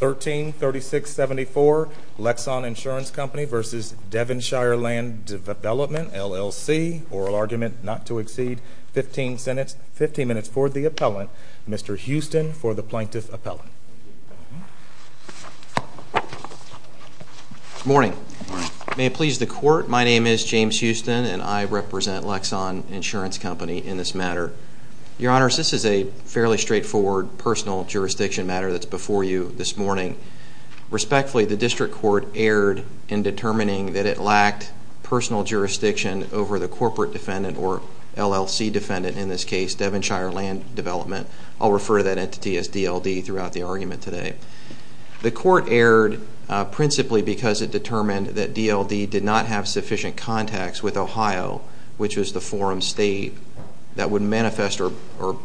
13-3674 Lexon Insurance Company v. Devinshire Land Development LLC. Oral argument not to exceed 15 minutes for the appellant. Mr. Houston for the plaintiff appellant. Morning. May it please the court, my name is James Houston and I represent Lexon Insurance Company in this matter. Your Honor, this is a fairly straightforward jurisdiction matter that's before you this morning. Respectfully, the district court erred in determining that it lacked personal jurisdiction over the corporate defendant or LLC defendant, in this case Devinshire Land Development. I'll refer to that entity as DLD throughout the argument today. The court erred principally because it determined that DLD did not have sufficient contacts with Ohio, which was the forum state that would manifest or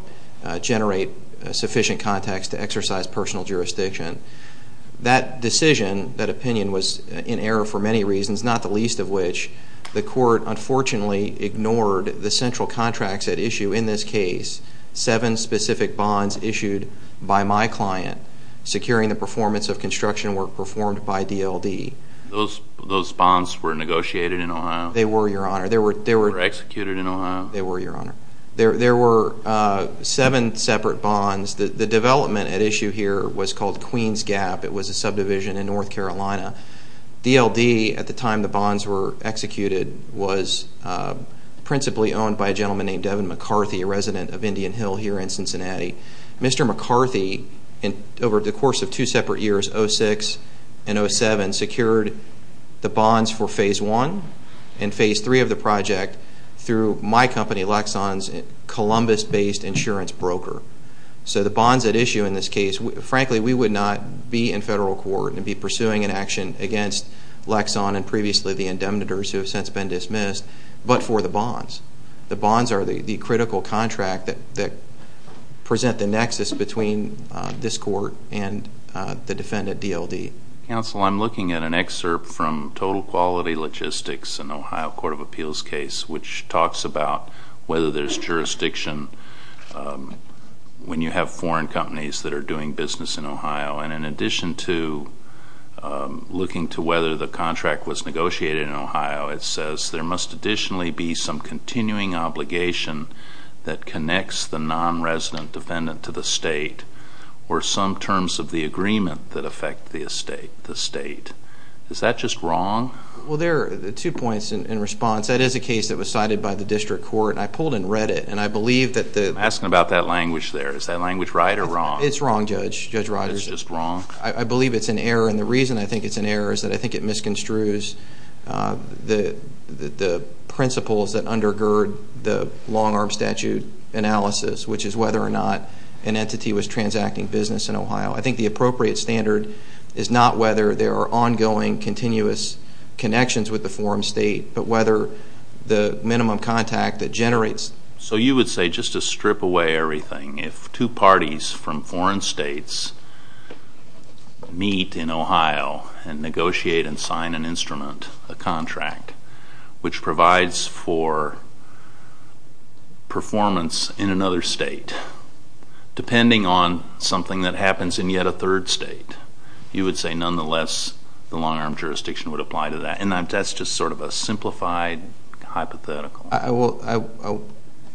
generate sufficient contacts to exercise personal jurisdiction. That decision, that opinion, was in error for many reasons, not the least of which the court unfortunately ignored the central contracts at issue, in this case, seven specific bonds issued by my client, securing the performance of construction work performed by DLD. Those bonds were negotiated in Ohio? They were, Your Honor. They were executed in Ohio? They were, Your Honor. There were seven separate bonds. The development at issue here was called Queens Gap. It was a subdivision in North Carolina. DLD, at the time the bonds were executed, was principally owned by a gentleman named Devin McCarthy, a resident of Indian Hill here in Cincinnati. Mr. McCarthy, over the course of two separate years, 06 and 07, secured the bonds for phase one and phase three of the project through my company, Lexon's Columbus based insurance broker. So the bonds at issue in this case, frankly, we would not be in federal court and be pursuing an action against Lexon and previously the indemnitors who have since been dismissed, but for the bonds. The bonds are the critical contract that present the nexus between this court and the defendant, DLD. Counsel, I'm looking at an excerpt from Total Quality Logistics and Ohio Court of Appeals case which talks about whether there's jurisdiction when you have foreign companies that are doing business in Ohio. And in addition to looking to whether the contract was negotiated in Ohio, it says there must additionally be some continuing obligation that connects the non-resident defendant to the state or some terms of the agreement that affect the state. Is that just wrong? Well, there are two points in response. That is a case that was cited by the district court and I pulled and read it and I believe that the... I'm asking about that language there. Is that language right or wrong? It's wrong, Judge. Judge Rogers. It's just wrong? I believe it's an error and the reason I think it's an error is that I think it misconstrues the principles that undergird the long arm statute analysis, which is whether or not an entity was transacting business in Ohio. I think the appropriate standard is not whether there are ongoing continuous connections with the forum state, but whether the minimum contact that generates... So you would say, just to strip away everything, if two parties from foreign states meet in Ohio and negotiate and sign an instrument, a contract, which provides for performance in another state, depending on something that you would say, nonetheless, the long arm jurisdiction would apply to that. And that's just sort of a simplified hypothetical.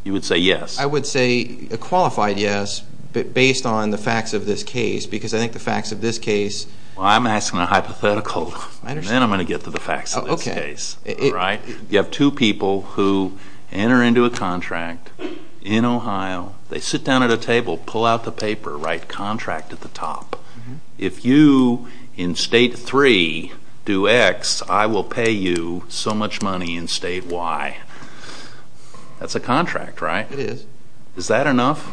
You would say yes? I would say a qualified yes, but based on the facts of this case, because I think the facts of this case... Well, I'm asking a hypothetical. I understand. Then I'm gonna get to the facts of this case. Okay. You have two people who enter into a contract in Ohio. They sit down at a table and say, if you, in state three, do X, I will pay you so much money in state Y. That's a contract, right? It is. Is that enough?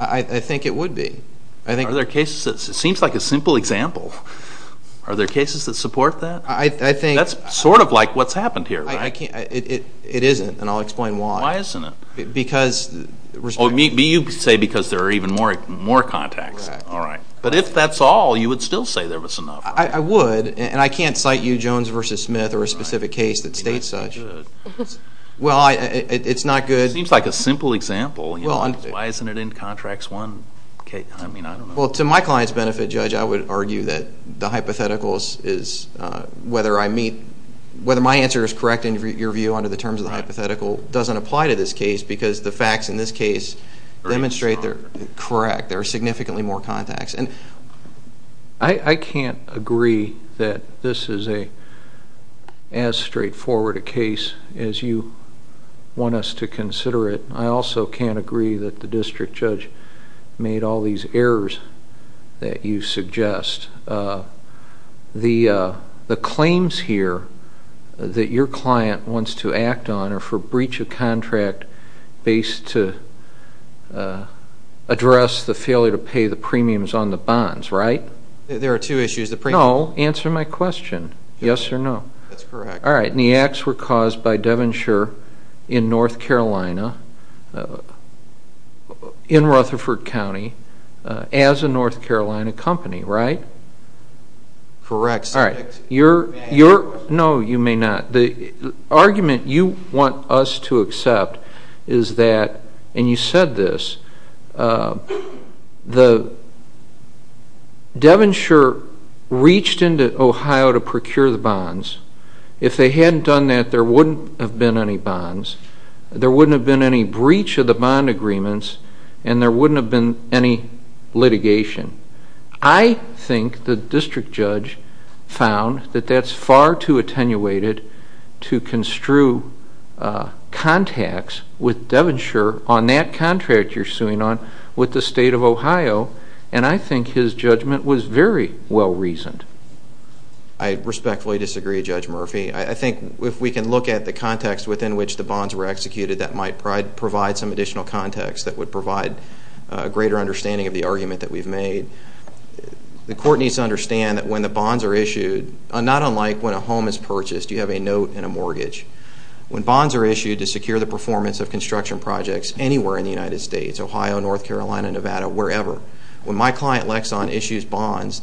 I think it would be. Are there cases... It seems like a simple example. Are there cases that support that? I think... That's sort of like what's happened here, right? It isn't, and I'll explain why. Why isn't it? Because... Oh, you say because there are even more contacts. Correct. All right. But if that's all, you would still say there was enough. I would, and I can't cite you Jones v. Smith or a specific case that states such. Well, it's not good. It seems like a simple example. Why isn't it in Contracts 1? I mean, I don't know. Well, to my client's benefit, Judge, I would argue that the hypotheticals is, whether I meet... whether my answer is correct in your view under the terms of the hypothetical, doesn't apply to this case, because the facts in this case demonstrate they're correct. There are significantly more contacts, and... I can't agree that this is as straightforward a case as you want us to consider it. I also can't agree that the district judge made all these errors that you suggest. The claims here that your client wants to act on are for breach of contract based to address the inability to pay the premiums on the bonds, right? There are two issues. The premium... No, answer my question. Yes or no? That's correct. All right. And the acts were caused by Devonshire in North Carolina, in Rutherford County, as a North Carolina company, right? Correct. All right. You're... No, you may not. The argument you want us to accept is that, and you said this, the... Devonshire reached into Ohio to procure the bonds. If they hadn't done that, there wouldn't have been any bonds. There wouldn't have been any breach of the bond agreements, and there wouldn't have been any litigation. I think the district judge found that that's far too attenuated to construe contacts with Devonshire on that contract you're suing on with the state of Ohio, and I think his judgment was very well reasoned. I respectfully disagree, Judge Murphy. I think if we can look at the context within which the bonds were executed, that might provide some additional context that would provide a greater understanding of the argument that we've made. The court needs to like when a home is purchased, you have a note and a mortgage. When bonds are issued to secure the performance of construction projects anywhere in the United States, Ohio, North Carolina, Nevada, wherever, when my client, Lexon, issues bonds,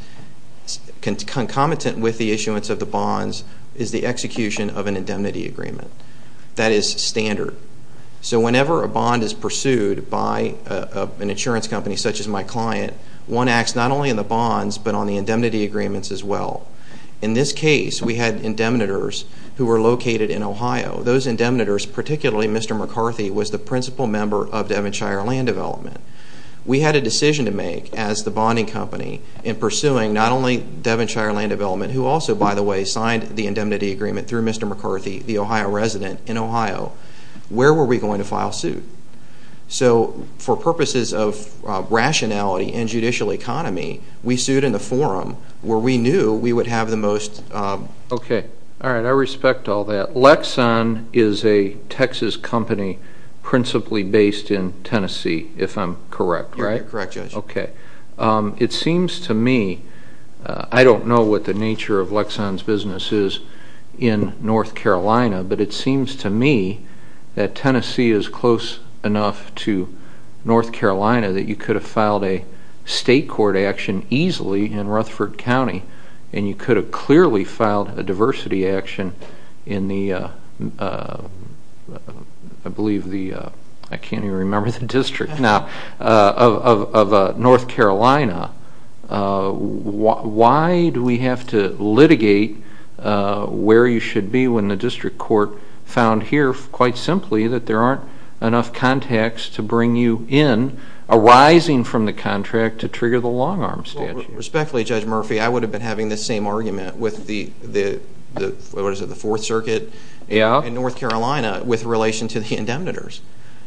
concomitant with the issuance of the bonds is the execution of an indemnity agreement. That is standard. So whenever a bond is pursued by an insurance company such as my client, one acts not only in the bonds but on the indemnity agreements as well. In this case, we had indemnitors who were located in Ohio. Those indemnitors, particularly Mr. McCarthy, was the principal member of Devonshire Land Development. We had a decision to make as the bonding company in pursuing not only Devonshire Land Development, who also, by the way, signed the indemnity agreement through Mr. McCarthy, the Ohio resident in Ohio. Where were we going to file suit? So for purposes of rationality and the forum, where we knew we would have the most... Okay. All right. I respect all that. Lexon is a Texas company principally based in Tennessee, if I'm correct, right? You're correct, Judge. Okay. It seems to me, I don't know what the nature of Lexon's business is in North Carolina, but it seems to me that Tennessee is close enough to North Carolina that you could have filed a diversity action in Rutherford County and you could have clearly filed a diversity action in the, I believe the... I can't even remember the district now, of North Carolina. Why do we have to litigate where you should be when the district court found here, quite simply, that there aren't enough contacts to bring you in arising from the contract to trigger the long-arm statute? Respectfully, Judge Murphy, I would have been having the same argument with the Fourth Circuit in North Carolina with relation to the indemnitors.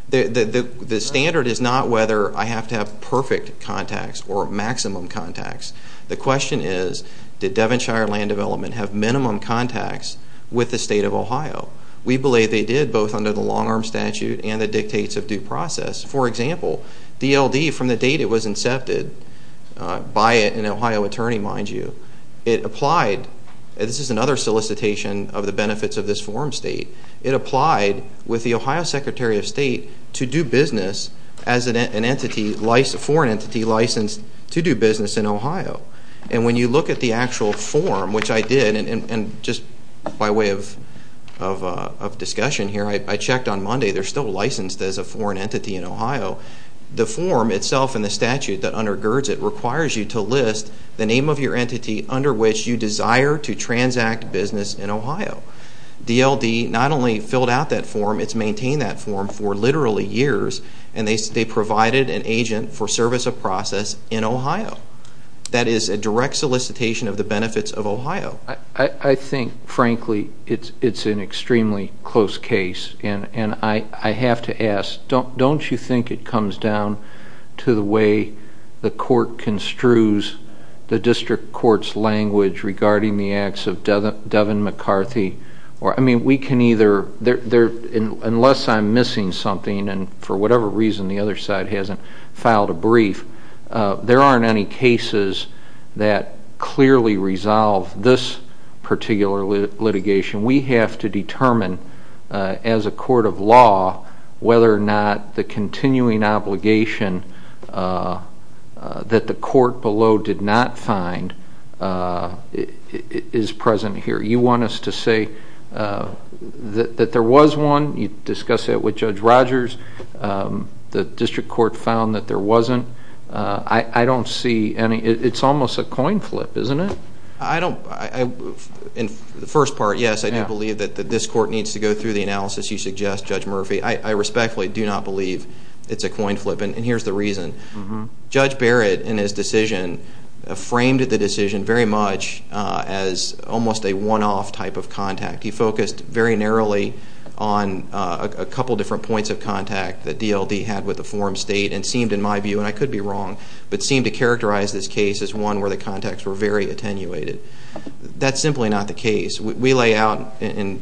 The standard is not whether I have to have perfect contacts or maximum contacts. The question is, did Devonshire Land Development have minimum contacts with the state of Ohio? We believe they did, both under the long-arm statute and the dictates of due process. For example, DLD, from the date it was incepted by an Ohio attorney, mind you, it applied... This is another solicitation of the benefits of this form state. It applied with the Ohio Secretary of State to do business as a foreign entity licensed to do business in Ohio. And when you look at the actual form, which I did, and just by way of discussion here, I checked on Monday, they're still licensed as a statute that undergirds it, requires you to list the name of your entity under which you desire to transact business in Ohio. DLD not only filled out that form, it's maintained that form for literally years, and they provided an agent for service of process in Ohio. That is a direct solicitation of the benefits of Ohio. I think, frankly, it's an extremely close case, and I have to ask, don't you think it comes down to the way the court construes the district court's language regarding the acts of Devin McCarthy? I mean, we can either... Unless I'm missing something, and for whatever reason the other side hasn't filed a brief, there aren't any cases that clearly resolve this particular litigation. We have to determine as a court of law whether or not the continuing obligation that the court below did not find is present here. You want us to say that there was one, you discussed that with Judge Rogers, the district court found that there wasn't. I don't see any... It's almost a coin flip, isn't it? I don't... In the first part, yes, I do believe that this court needs to go through the analysis you suggest, Judge Murphy. I respectfully do not believe it's a coin flip, and here's the reason. Judge Barrett, in his decision, framed the decision very much as almost a one off type of contact. He focused very narrowly on a couple of different points of contact that DLD had with the form state and seemed, in my view, and I could be wrong, but seemed to characterize this case as one where the contacts were very attenuated. That's simply not the case. We lay out in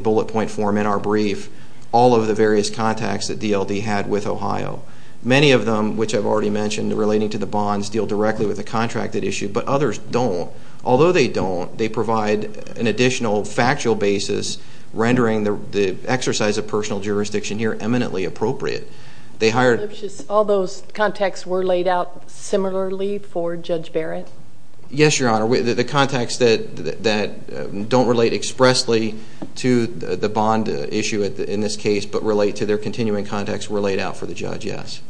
bullet point form in our brief all of the various contacts that DLD had with Ohio. Many of them, which I've already mentioned, relating to the bonds, deal directly with the contract that issued, but others don't. Although they don't, they provide an additional factual basis rendering the exercise of personal jurisdiction here eminently appropriate. They hired... All those contacts were laid out similarly for Judge Barrett? Yes, Your Honor. The contacts that don't relate expressly to the bond issue in this case, but relate to their continuing contacts were laid out for the judge, yes.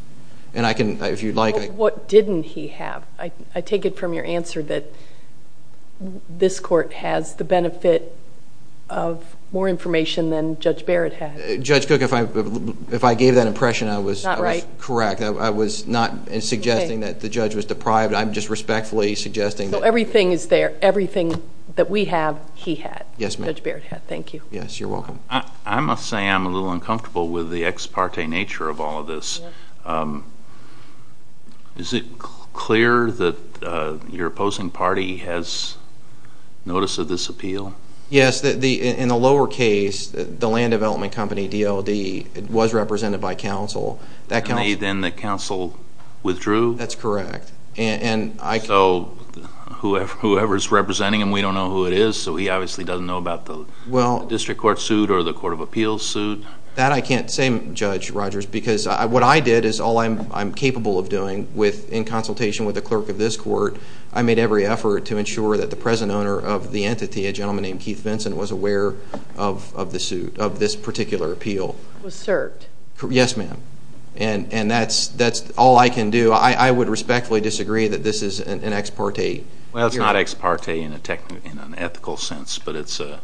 And I can, if you'd like... What didn't he have? I take it from your answer that this court has the benefit of more information than Judge Barrett had. Judge Cook, if I gave that impression, I was... Not suggesting that the judge was deprived, I'm just respectfully suggesting... So everything is there, everything that we have, he had. Yes, ma'am. Judge Barrett had. Thank you. Yes, you're welcome. I must say I'm a little uncomfortable with the ex parte nature of all of this. Is it clear that your opposing party has notice of this appeal? Yes, in the lower case, the land development company, DLD, was represented by counsel. And then the counsel withdrew? That's correct. And I... So whoever's representing him, we don't know who it is, so he obviously doesn't know about the district court suit or the court of appeals suit? That I can't say, Judge Rogers, because what I did is all I'm capable of doing with, in consultation with the clerk of this court, I made every effort to ensure that the present owner of the entity, a gentleman named Keith Vinson, was aware of the suit, of this particular appeal. Was served? Yes, ma'am. And that's all I can do. I would respectfully disagree that this is an ex parte hearing. Well, it's not ex parte in an ethical sense, but it's a...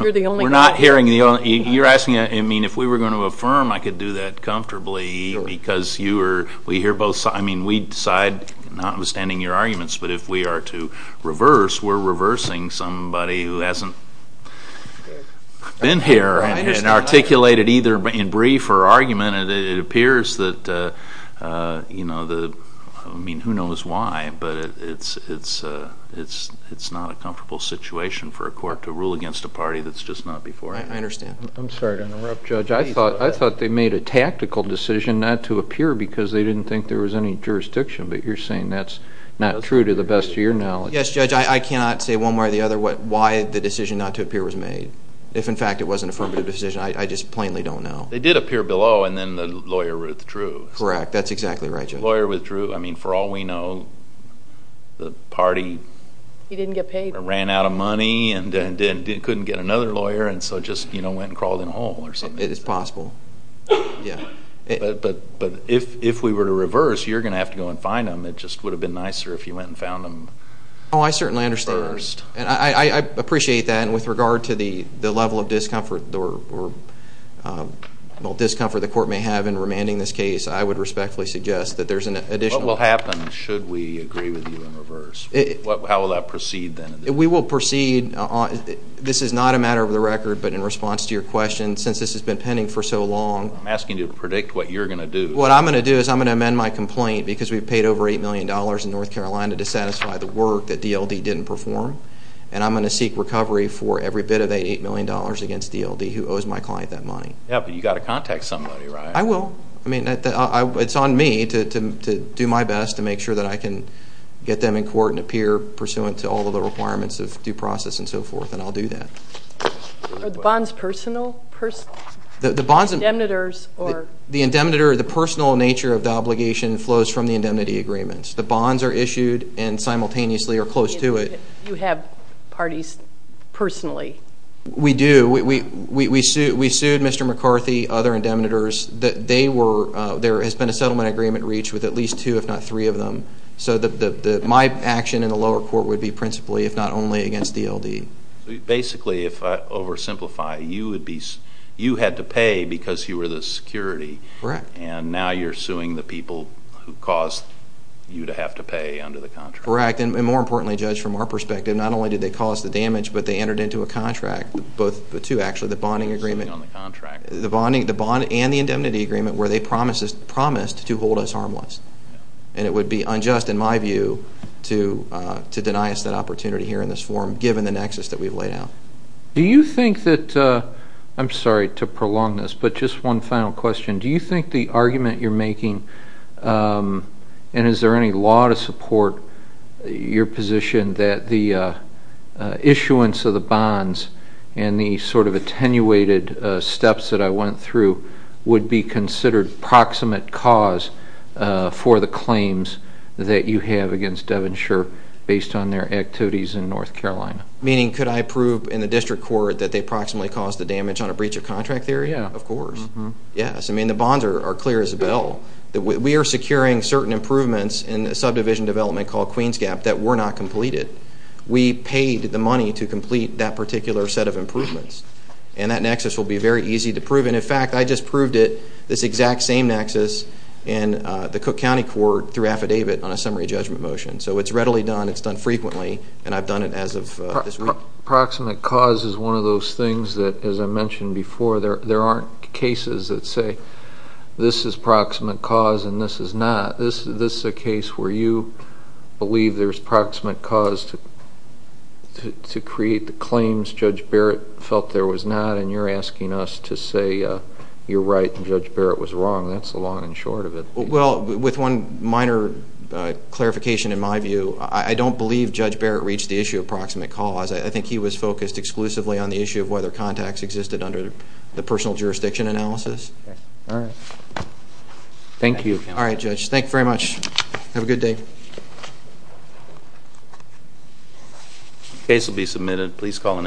You're the only... We're not hearing the only... You're asking... I mean, if we were gonna affirm, I could do that comfortably because you are... We hear both sides. I mean, we decide, notwithstanding your arguments, but if we are to reverse, we're reversing somebody who hasn't... Been here and articulated either in brief or argument, and it appears that the... I mean, who knows why, but it's not a comfortable situation for a court to rule against a party that's just not before it. I understand. I'm sorry to interrupt, Judge. I thought they made a tactical decision not to appear because they didn't think there was any jurisdiction, but you're saying that's not true to the best of your knowledge. Yes, Judge. I cannot say one way or the other why the decision not to appear was made. If, in fact, it was an affirmative decision, I just plainly don't know. They did appear below, and then the lawyer withdrew. Correct. That's exactly right, Judge. Lawyer withdrew. I mean, for all we know, the party... He didn't get paid. Ran out of money and then couldn't get another lawyer, and so just went and crawled in a hole or something. It is possible. Yeah. But if we were to reverse, you're gonna have to go and find them. It just would have been nicer if you went and found them... Oh, I certainly understand. First. And I appreciate that. And with regard to the level of discomfort or discomfort the court may have in remanding this case, I would respectfully suggest that there's an additional... What will happen should we agree with you in reverse? How will that proceed, then? We will proceed. This is not a matter of the record, but in response to your question, since this has been pending for so long... I'm asking you to predict what you're gonna do. What I'm gonna do is I'm gonna amend the work that DLD didn't perform, and I'm gonna seek recovery for every bit of that $8 million against DLD, who owes my client that money. Yeah, but you gotta contact somebody, right? I will. I mean, it's on me to do my best to make sure that I can get them in court and appear pursuant to all of the requirements of due process and so forth, and I'll do that. Are the bonds personal? The bonds... The indemnitors or... The indemnitor, the personal nature of the obligation flows from the indemnity agreements. The bonds are issued and simultaneously are close to it. You have parties personally? We do. We sued Mr. McCarthy, other indemnitors. There has been a settlement agreement reached with at least two, if not three of them. So my action in the lower court would be principally, if not only, against DLD. Basically, if I oversimplify, you had to pay because you were the security. Correct. And now you're due to have to pay under the contract. Correct. And more importantly, judge, from our perspective, not only did they cause the damage, but they entered into a contract, both... The two actually, the bonding agreement... The bond and the indemnity agreement where they promised to hold us harmless. And it would be unjust, in my view, to deny us that opportunity here in this forum, given the nexus that we've laid out. Do you think that... I'm sorry to prolong this, but just one final question. Do you think the argument you're making, and is there any law to support your position that the issuance of the bonds and the attenuated steps that I went through would be considered proximate cause for the claims that you have against Devonshire based on their activities in North Carolina? Meaning, could I prove in the district court that they proximately caused the damage on a breach of contract there? Yeah, of course. Yes. The bonds are clear as a well. We are securing certain improvements in a subdivision development called Queens Gap that were not completed. We paid the money to complete that particular set of improvements. And that nexus will be very easy to prove. And in fact, I just proved it, this exact same nexus in the Cook County court through affidavit on a summary judgment motion. So it's readily done, it's done frequently, and I've done it as of this week. Proximate cause is one of those things that, as I mentioned before, there aren't cases that say, this is proximate cause and this is not. This is a case where you believe there's proximate cause to create the claims Judge Barrett felt there was not, and you're asking us to say you're right and Judge Barrett was wrong. That's the long and short of it. Well, with one minor clarification in my view, I don't believe Judge Barrett reached the issue of proximate cause. I think he was focused exclusively on the personal jurisdiction analysis. Alright. Thank you. Alright, Judge. Thank you very much. Have a good day. Case will be submitted. Please call